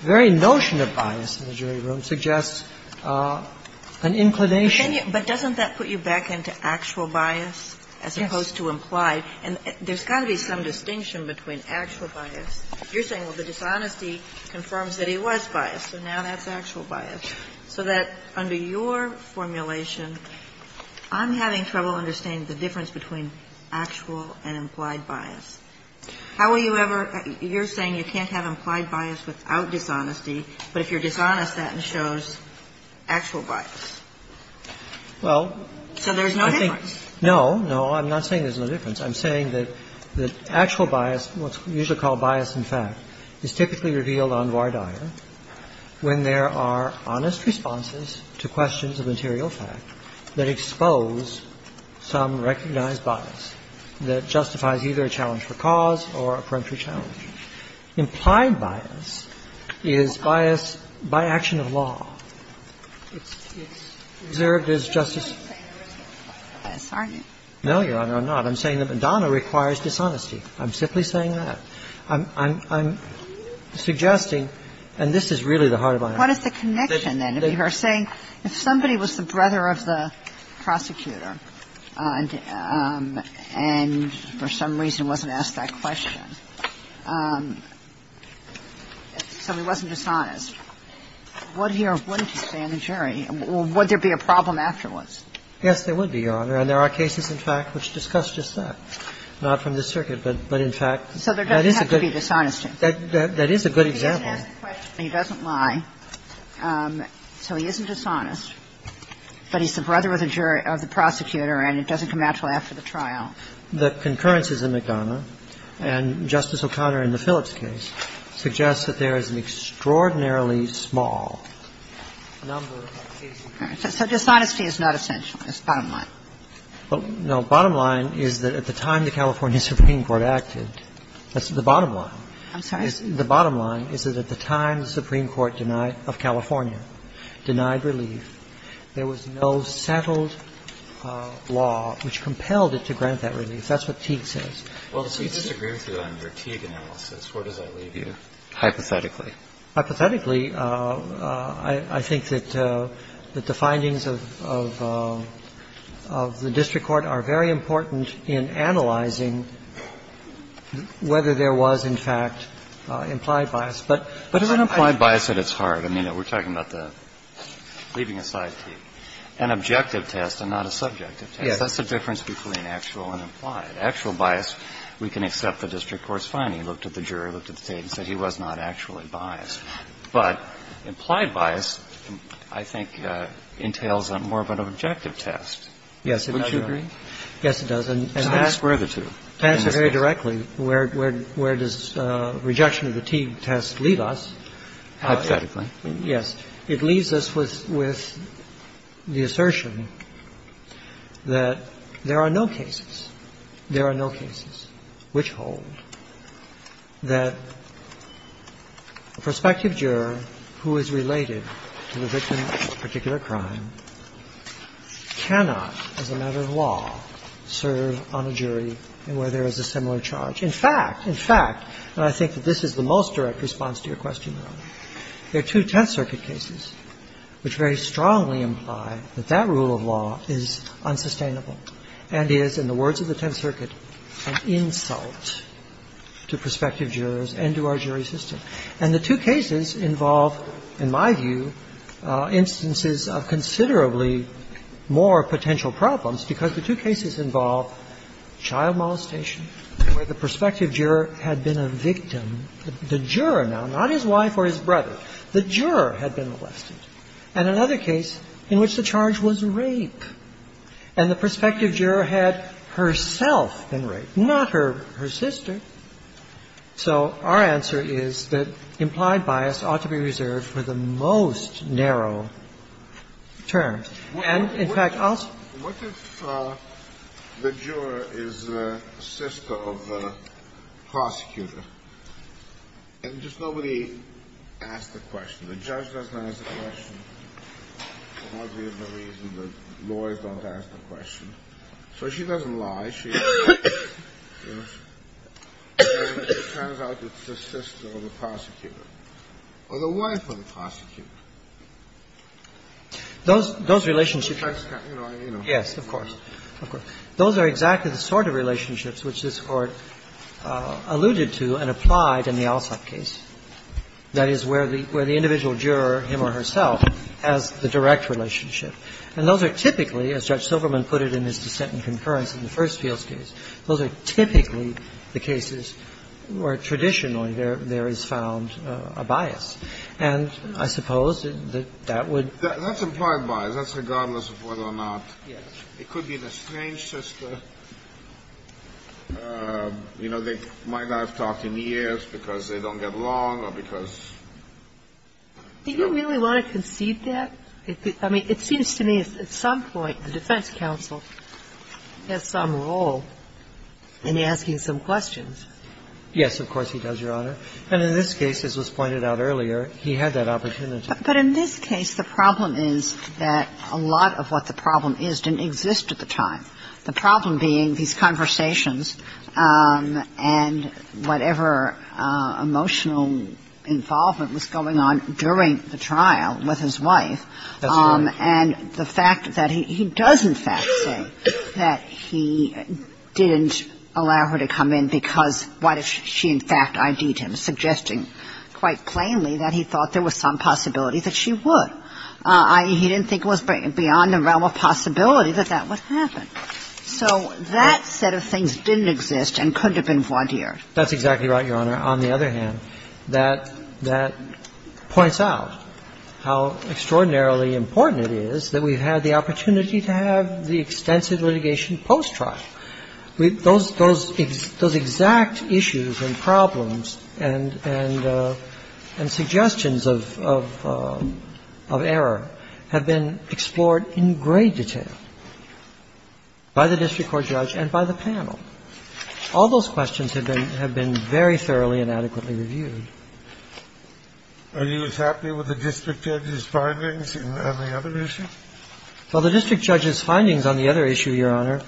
very notion of bias in the jury room suggests an inclination. But doesn't that put you back into actual bias as opposed to implied? And there's got to be some distinction between actual bias. You're saying, well, the dishonesty confirms that he was biased, so now that's actual bias. So that, under your formulation, I'm having trouble understanding the difference between actual and implied bias. How will you ever – you're saying you can't have implied bias without dishonesty, but if you're dishonest, that shows actual bias. Well, I think – So there's no difference. No, no. I'm not saying there's no difference. I'm saying that actual bias, what's usually called bias in fact, is typically revealed on voir dire when there are honest responses to questions of material fact that expose some recognized bias that justifies either a challenge for cause or a peremptory challenge. Implied bias is bias by action of law. It's observed as justice – You're not saying there is no bias, are you? No, Your Honor, I'm not. I'm saying that Madonna requires dishonesty. I'm simply saying that. I'm suggesting – and this is really the heart of my argument. What is the connection, then, if you are saying if somebody was the brother of the prosecutor and for some reason wasn't asked that question, so he wasn't dishonest, would he or wouldn't he stay on the jury? Would there be a problem afterwards? Yes, there would be, Your Honor. And there are cases, in fact, which discuss just that, not from the circuit, but in fact – So there doesn't have to be dishonesty. That is a good example. He doesn't ask the question. He doesn't lie. So he isn't dishonest, but he's the brother of the jury – of the prosecutor and it doesn't come out until after the trial. The concurrences in Madonna and Justice O'Connor in the Phillips case suggest that there is an extraordinarily small number of cases of concurrence. So dishonesty is not essential. It's the bottom line. Well, no. The bottom line is that at the time the California Supreme Court acted – that's the bottom line. I'm sorry? The bottom line is that at the time the Supreme Court denied – of California denied relief, there was no settled law which compelled it to grant that relief. That's what Teague says. Well, so you disagree with me on your Teague analysis. Where does that leave you, hypothetically? Hypothetically, I think that the findings of the district court are very important in analyzing whether there was, in fact, implied bias. But if it's implied bias, then it's hard. I mean, we're talking about the – leaving aside Teague. An objective test and not a subjective test. That's the difference between actual and implied. In the case of Teague, there was no actual bias, but in the case of Teague, there And if there was an actual bias, we can accept the district court's finding. Looked at the jury, looked at the state, and said he was not actually biased. But implied bias, I think, entails more of an objective test. Yes, it does. Would you agree? Yes, it does. And how do you square the two? To answer very directly, where does rejection of the Teague test leave us? Hypothetically. Yes. It leaves us with the assertion that there are no cases, there are no cases, which hold that a prospective juror who is related to the victim of a particular crime cannot, as a matter of law, serve on a jury where there is a similar charge. In fact, in fact, and I think that this is the most direct response to your question, Your Honor, there are two Tenth Circuit cases which very strongly imply that that rule of law is unsustainable and is, in the words of the Tenth Circuit, an insult to prospective jurors and to our jury system. And the two cases involve, in my view, instances of considerably more potential problems, because the two cases involve child molestation, where the prospective juror had been a victim. The juror, now, not his wife or his brother, the juror had been molested. And another case in which the charge was rape, and the prospective juror had herself been raped, not her sister. So our answer is that implied bias ought to be reserved for the most narrow terms. And, in fact, I'll say to you, Your Honor, what if the juror is a sister of the prosecutor and just nobody asks the question, the judge doesn't ask the question, and that would be the reason the lawyers don't ask the question. So she doesn't lie. Kennedy, in the case of the Alsopp case, the jurors don't ask the question. The question is, what if the juror is a sister of the prosecutor, or the wife of the prosecutor? Those relationships are the sort of relationships which this Court alluded to and applied in the Alsopp case. That is, where the individual juror, him or herself, has the direct relationship. And those are typically, as Judge Silverman put it in his dissent and concurrence in the first Fields case, those are typically the cases where traditionally there is found a bias. And I suppose that that would be the case. Kennedy, that's implied bias. That's regardless of whether or not it could be the strange sister. The question is, what if the juror is a sister of the prosecutor, or the wife of the The question is, what if the juror is a sister of the prosecutor, or the wife of the That's regardless of whether or not it could be the strange sister. You know, they might not have talked in years because they don't get along, or because they don't get along. Do you really want to concede that? I mean, it seems to me at some point the defense counsel has some role in asking some questions. Yes, of course he does, Your Honor. And in this case, as was pointed out earlier, he had that opportunity. But in this case, the problem is that a lot of what the problem is didn't exist at the time. The problem being these conversations and whatever emotional involvement was going on during the trial with his wife. That's right. And the fact that he does, in fact, say that he didn't allow her to come in because what if she, in fact, ID'd him, suggesting quite plainly that he thought there was some possibility that she would. He didn't think it was beyond the realm of possibility that that would happen. So that set of things didn't exist and couldn't have been voir dired. That's exactly right, Your Honor. And I think that's a good point, Your Honor, on the other hand, that points out how extraordinarily important it is that we've had the opportunity to have the extensive litigation post-trial. Those exact issues and problems and suggestions of error have been explored in great detail by the district court judge and by the panel. All those questions have been very thoroughly and adequately reviewed. Are you as happy with the district judge's findings on the other issue? Well, the district judge's findings on the other issue, Your Honor,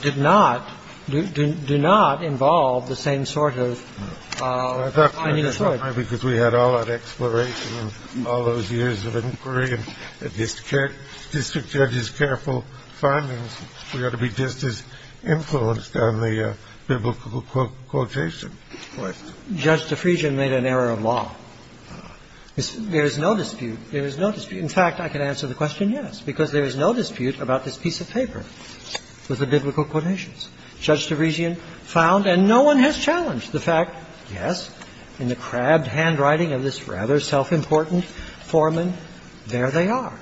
did not involve the same sort of findings. I thought so, didn't I, because we had all that exploration and all those years of inquiry and district judge's careful findings. We ought to be just as influenced on the biblical quotation. Judge DeFriesian made an error of law. There is no dispute. There is no dispute. In fact, I can answer the question yes, because there is no dispute about this piece of paper with the biblical quotations. Judge DeFriesian found, and no one has challenged the fact, yes, in the crabbed handwriting of this rather self-important foreman, there they are.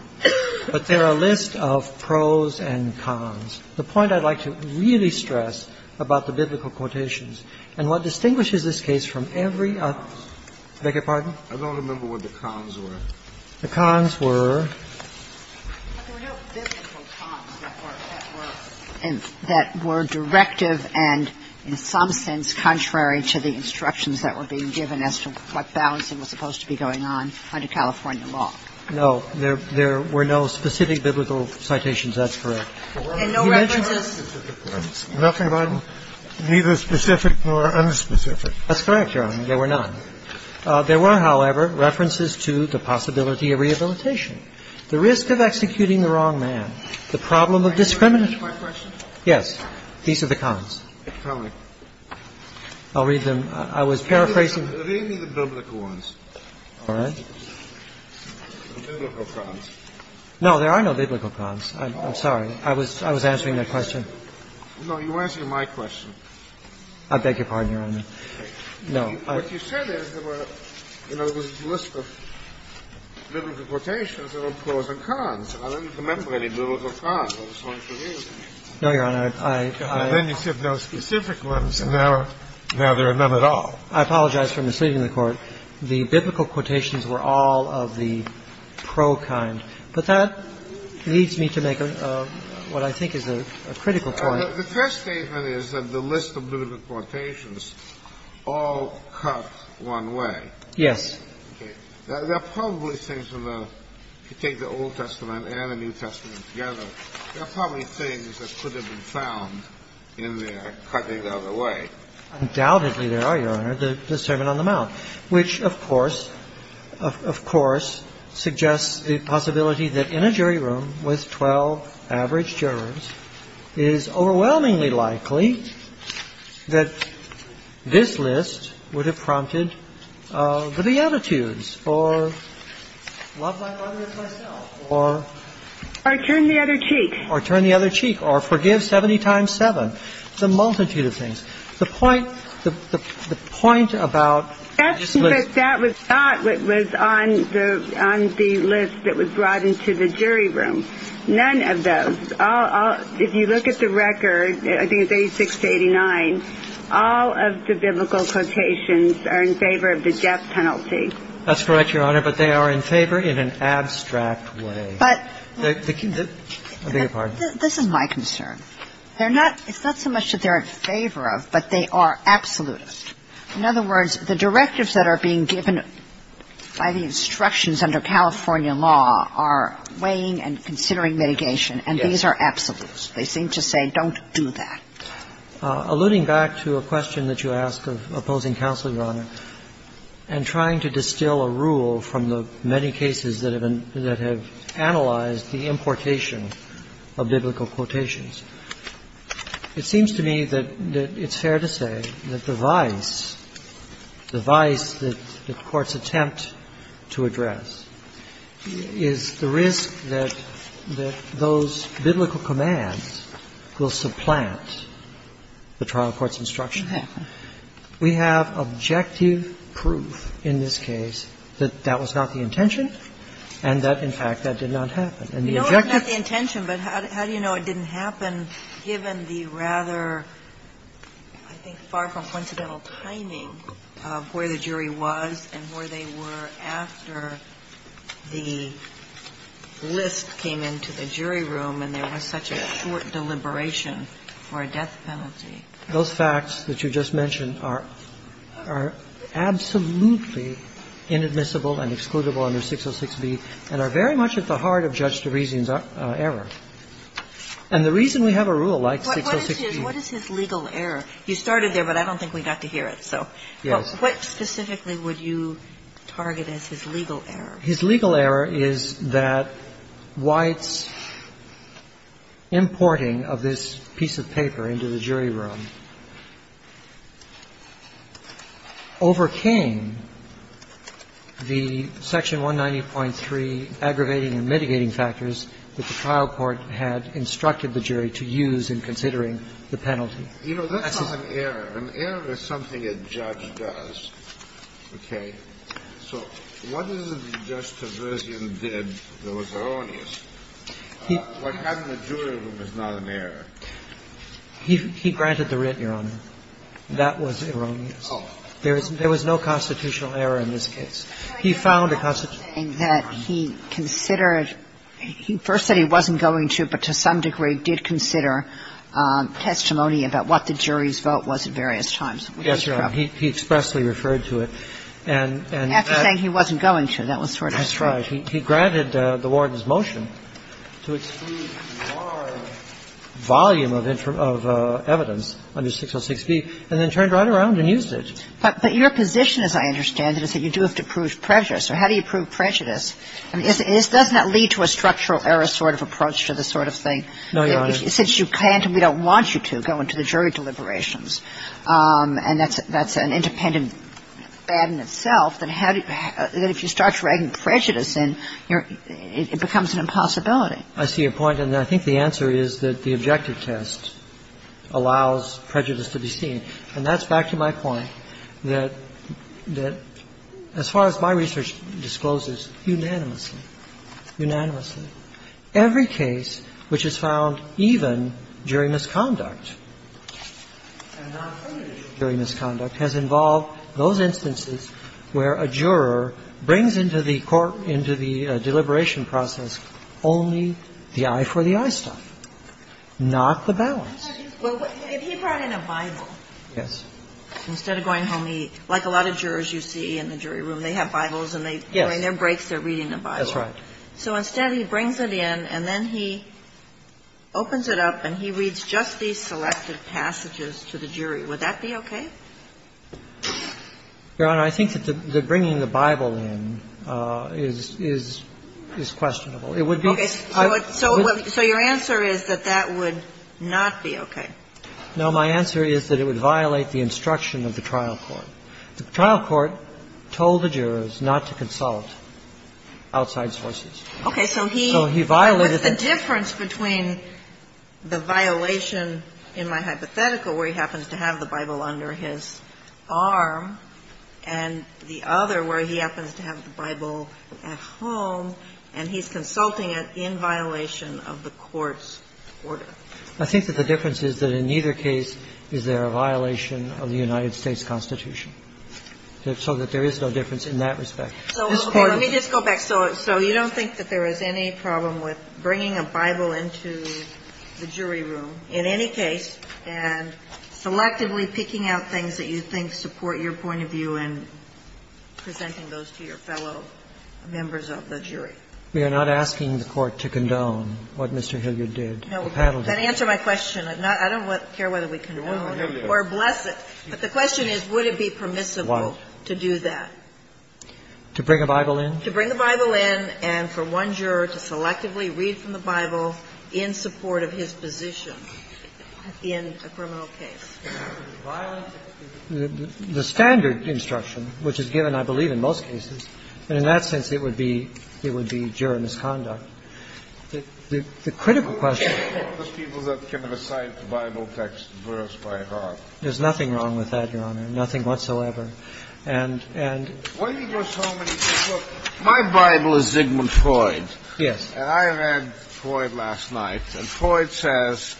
But there are a list of pros and cons. The point I'd like to really stress about the biblical quotations and what distinguishes this case from every other one is that there are pros and cons. I beg your pardon? I don't remember what the cons were. The cons were? There were no biblical cons that were directive and in some sense contrary to the instructions that were being given as to what balancing was supposed to be going on under California law. No, there were no specific biblical citations. That's correct. And no references? Nothing about neither specific nor unspecific. That's correct, Your Honor. There were none. There were, however, references to the possibility of rehabilitation, the risk of executing the wrong man, the problem of discrimination. Yes. These are the cons. How many? I'll read them. I was paraphrasing. Read me the biblical ones. All right. There were no biblical cons. No, there are no biblical cons. I'm sorry. I was answering that question. No, you're answering my question. I beg your pardon, Your Honor. No. What you said is there were, in other words, a list of biblical quotations that were pros and cons. And I don't remember any biblical cons. I was trying to read them. No, Your Honor. I Then you said no specific ones. And now there are none at all. I apologize for misleading the Court. The biblical quotations were all of the pro kind. But that leads me to make what I think is a critical point. The first statement is that the list of biblical quotations all cut one way. Yes. There are probably things in the, if you take the Old Testament and the New Testament together, there are probably things that could have been found in there cutting the other way. Which, of course, suggests the possibility that in a jury room with 12 average jurors, it is overwhelmingly likely that this list would have prompted for the attitudes or love thy brother as thyself or turn the other cheek or forgive 70 times 7. The multitude of things. The point about That was not what was on the list that was brought into the jury room. None of those. If you look at the record, I think it's 86 to 89, all of the biblical quotations are in favor of the death penalty. That's correct, Your Honor. But they are in favor in an abstract way. But this is my concern. They're not it's not so much that they're in favor of, but they are absolutist. In other words, the directives that are being given by the instructions under California law are weighing and considering mitigation. And these are absolutes. They seem to say, don't do that. Alluding back to a question that you asked of opposing counsel, Your Honor, and trying to distill a rule from the many cases that have been that have analyzed the importation of biblical quotations. It seems to me that it's fair to say that the vice, the vice that the courts attempt to address is the risk that those biblical commands will supplant the trial court's instruction. We have objective proof in this case that that was not the intention and that, in fact, that did not happen. And the objectives. You know it's not the intention, but how do you know it didn't happen given the rather, I think, far from coincidental timing of where the jury was and where they were after the list came into the jury room and there was such a short deliberation for a death penalty? Those facts that you just mentioned are absolutely inadmissible and excludable under 606B and are very much at the heart of Judge Terezian's error. And the reason we have a rule like 606B. What is his legal error? You started there, but I don't think we got to hear it. So what specifically would you target as his legal error? His legal error is that White's importing of this piece of paper into the jury room overcame the section 190.3, aggravating and mitigating factors that the trial court had instructed the jury to use in considering the penalty. You know, that's not an error. An error is something a judge does, okay? So what is it that Judge Terezian did that was erroneous? What happened in the jury room is not an error. He granted the writ, Your Honor. That was erroneous. There was no constitutional error in this case. He found a constitutional error. He considered he first said he wasn't going to, but to some degree did consider testimony about what the jury's vote was at various times. Yes, Your Honor. He expressly referred to it. And that's the thing. He wasn't going to. That was sort of his trick. He granted the warden's motion to exclude large volume of evidence under 606B and then turned right around and used it. But your position, as I understand it, is that you do have to prove prejudice. So how do you prove prejudice? I mean, doesn't that lead to a structural error sort of approach to this sort of thing? No, Your Honor. Since you can't and we don't want you to go into the jury deliberations, and that's an independent bad in itself, then how do you – that if you start dragging prejudice in, you're – it becomes an impossibility. I see your point. And I think the answer is that the objective test allows prejudice to be seen. And that's back to my point that as far as my research discloses, unanimously, unanimously, every case which is found even during misconduct and non-punishable during misconduct has involved those instances where a juror brings into the court, into the deliberation process, only the eye for the eye stuff, not the balance. Well, if he brought in a Bible, instead of going home, he – like a lot of jurors you see in the jury room, they have Bibles and they – during their breaks, they're reading a Bible. That's right. So instead, he brings it in and then he opens it up and he reads just these selected passages to the jury. Would that be okay? Your Honor, I think that the bringing the Bible in is – is questionable. It would be – Okay. So your answer is that that would not be okay? No. My answer is that it would violate the instruction of the trial court. The trial court told the jurors not to consult outside sources. Okay. So he violated the – I think that the difference is that in either case, is there a violation of the United States Constitution so that there is no difference in that respect? Ms. Payne. Let me just go back. So you don't think that there is any problem with bringing a Bible into the jury room in any case and selectively picking out things that you think support your point of view and presenting those to your fellow members of the jury? We are not asking the court to condone what Mr. Hilliard did. No. Then answer my question. I don't care whether we condone or bless it, but the question is, would it be permissible to do that? To bring a Bible in? To bring a Bible in and for one juror to selectively read from the Bible in support of his position in a criminal case. Violent? The standard instruction, which is given, I believe, in most cases, and in that sense it would be – it would be juror misconduct. The critical question – Who are the people that can recite the Bible text verse by verse? There's nothing wrong with that, Your Honor, nothing whatsoever. Why do you go so many – look, my Bible is Zygmunt Freud, and I read Freud last night, and Freud says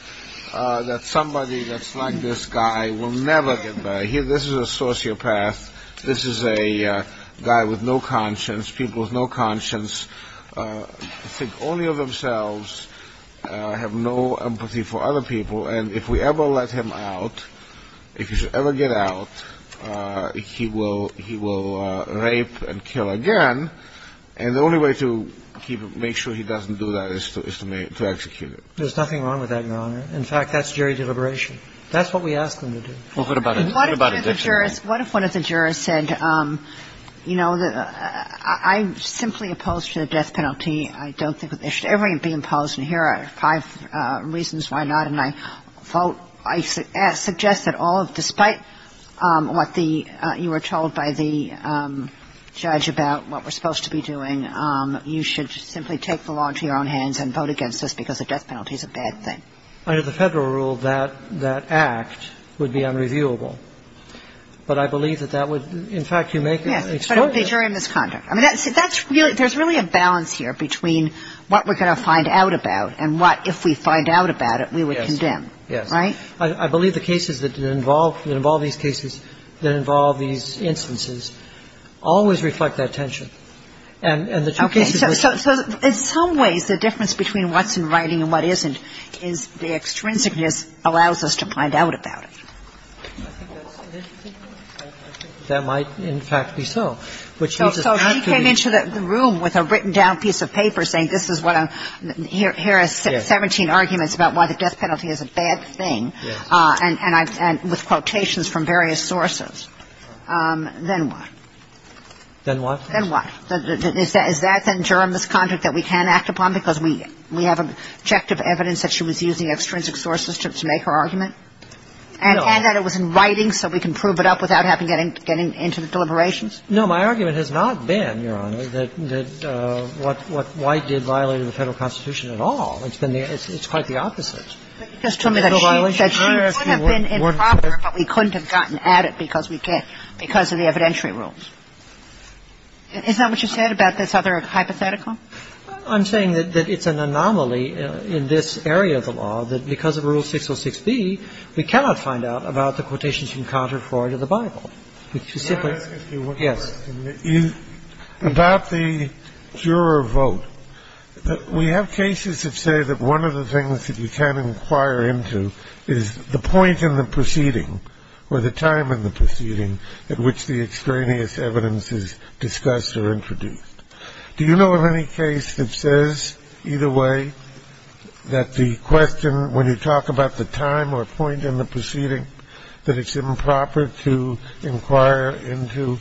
that somebody that's like this guy will never get better. This is a sociopath, this is a guy with no conscience, people with no conscience, think only of themselves, have no empathy for other people, and if we ever let him out, if he should ever get out, he will rape and kill again, and the only way to make sure he doesn't do that is to execute him. There's nothing wrong with that, Your Honor. In fact, that's jury deliberation. That's what we ask them to do. Well, what about addiction then? What if one of the jurors said, you know, I'm simply opposed to the death penalty, I don't think that it should ever be imposed, and here are five reasons why not, and I vote – I suggest that all of – despite what the – you were told by the judge about what we're supposed to be doing, you should simply take the law into your own hands and vote against this because the death penalty is a bad thing. Under the Federal rule, that act would be unreviewable, but I believe that that would – in fact, you make it – Yes, but it would be jury misconduct. I mean, that's – that's really – there's really a balance here between what we're going to find out about and what, if we find out about it, we would condemn. Yes. Right? I believe the cases that involve – that involve these cases, that involve these instances, always reflect that tension. And the two cases – Okay. So in some ways, the difference between what's in writing and what isn't is the extrinsicness allows us to find out about it. I think that's – I think that might, in fact, be so. So he came into the room with a written-down piece of paper saying this is what I'm – here are 17 arguments about why the death penalty is a bad thing. Yes. And I've – and with quotations from various sources. Then what? Then what? Then what? Is that then juror misconduct that we can act upon because we have objective evidence that she was using extrinsic sources to make her argument? No. And that it was in writing so we can prove it up without having to get into the deliberations? No. My argument has not been, Your Honor, that what White did violated the Federal Constitution at all. It's been the – it's quite the opposite. But you just told me that she – that she would have been improper, but we couldn't have gotten at it because we can't – because of the evidentiary rules. Is that what you said about this other hypothetical? I'm saying that it's an anomaly in this area of the law that because of Rule 606b, we cannot find out about the quotations from Contrary to the Bible. Would you say, please? Yes. About the juror vote, we have cases that say that one of the things that you can't inquire into is the point in the proceeding or the time in the proceeding at which the extraneous evidence is discussed or introduced. Do you know of any case that says either way that the question – when you talk about the time or point in the proceeding, that it's improper to inquire into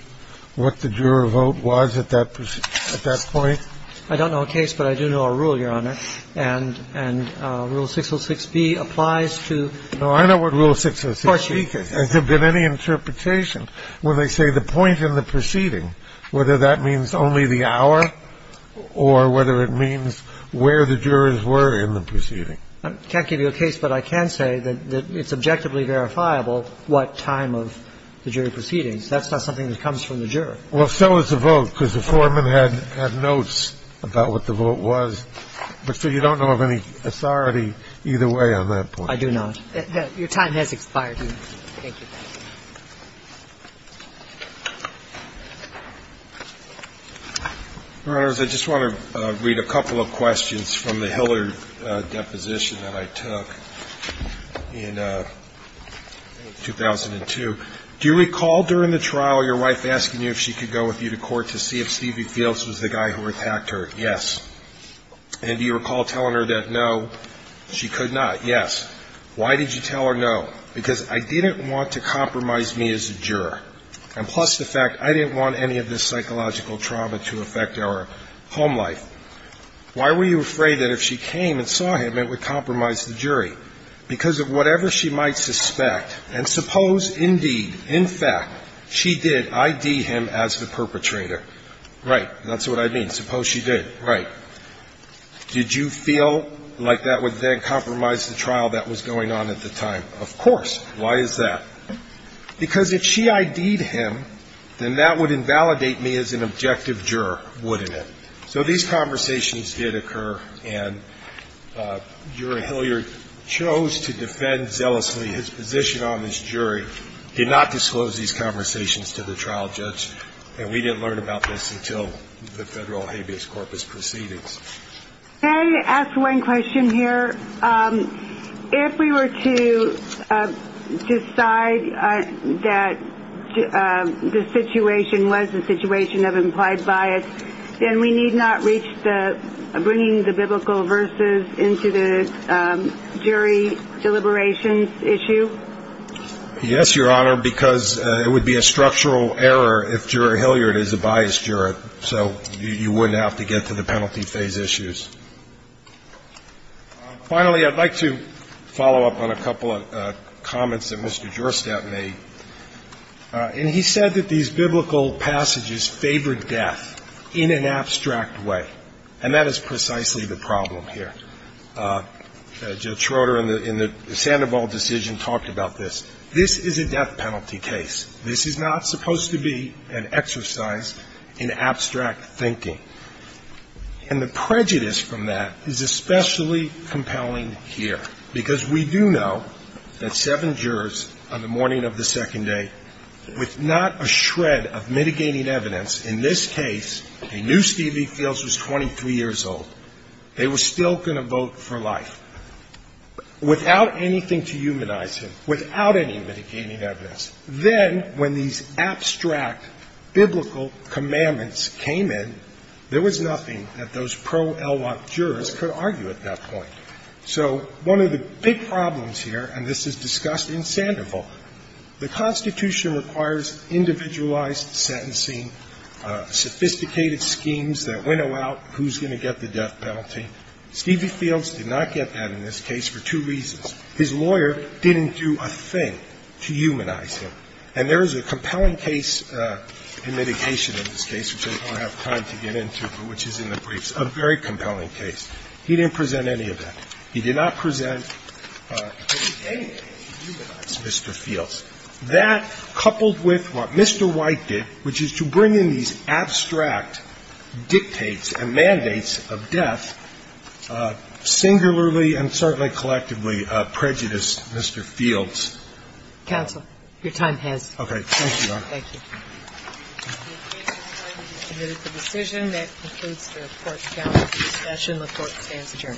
what the juror vote was at that point? I don't know a case, but I do know a rule, Your Honor. And Rule 606b applies to – No, I know what Rule 606b says. Has there been any interpretation when they say the point in the proceeding, whether that means only the hour or whether it means where the jurors were in the proceeding? I can't give you a case, but I can say that it's objectively verifiable what time of the jury proceedings. That's not something that comes from the juror. Well, so is the vote, because the foreman had notes about what the vote was. But, sir, you don't know of any authority either way on that point. I do not. Your time has expired, Your Honor. Thank you. Your Honor, I just want to read a couple of questions from the Hiller deposition that I took in 2002. Do you recall during the trial your wife asking you if she could go with you to court to see if Stevie Fields was the guy who attacked her? Yes. And do you recall telling her that, no, she could not? Yes. Why did you tell her no? Because I didn't want to compromise me as a juror. And plus the fact I didn't want any of this psychological trauma to affect our home life. Why were you afraid that if she came and saw him, it would compromise the jury? Because of whatever she might suspect. And suppose, indeed, in fact, she did ID him as the perpetrator. Right. That's what I mean. Suppose she did. Right. Did you feel like that would then compromise the trial that was going on at the time? Of course. Why is that? Because if she ID'd him, then that would invalidate me as an objective juror, wouldn't it? So these conversations did occur. And Jury Hiller chose to defend zealously his position on this jury, did not disclose these conversations to the trial judge. And we didn't learn about this until the federal habeas corpus proceedings. May I ask one question here? If we were to decide that the situation was the situation of implied bias, then we need not reach the bringing the biblical verses into the jury deliberations issue? Yes, Your Honor, because it would be a structural error if Jury Hiller is a biased juror. So you wouldn't have to get to the penalty phase issues. Finally, I'd like to follow up on a couple of comments that Mr. Jurstad made. And he said that these biblical passages favored death in an abstract way. And that is precisely the problem here. Judge Schroeder, in the Sandoval decision, talked about this. This is a death penalty case. This is not supposed to be an exercise in abstract thinking. And the prejudice from that is especially compelling here. Because we do know that seven jurors on the morning of the second day, with not a shred of mitigating evidence, in this case, a new Stevie Fields was 23 years old. They were still going to vote for life, without anything to humanize him, without any mitigating evidence. Then, when these abstract biblical commandments came in, there was nothing that those pro-Elwok jurors could argue at that point. So one of the big problems here, and this is discussed in Sandoval, the Constitution requires individualized sentencing, sophisticated schemes that winnow out who's going to get the death penalty. Stevie Fields did not get that in this case for two reasons. His lawyer didn't do a thing to humanize him. And there is a compelling case in mitigation in this case, which I don't have time to get into, but which is in the briefs, a very compelling case. He didn't present any of that. He did not present any case to humanize Mr. Fields. That, coupled with what Mr. White did, which is to bring in these abstract dictates and mandates of death, singularly and certainly collectively prejudiced Mr. Fields. Counsel, your time has expired. Okay. Thank you, Your Honor. Thank you. The case is closed. We have committed the decision. That concludes the Court's counsel discussion. The Court stands adjourned.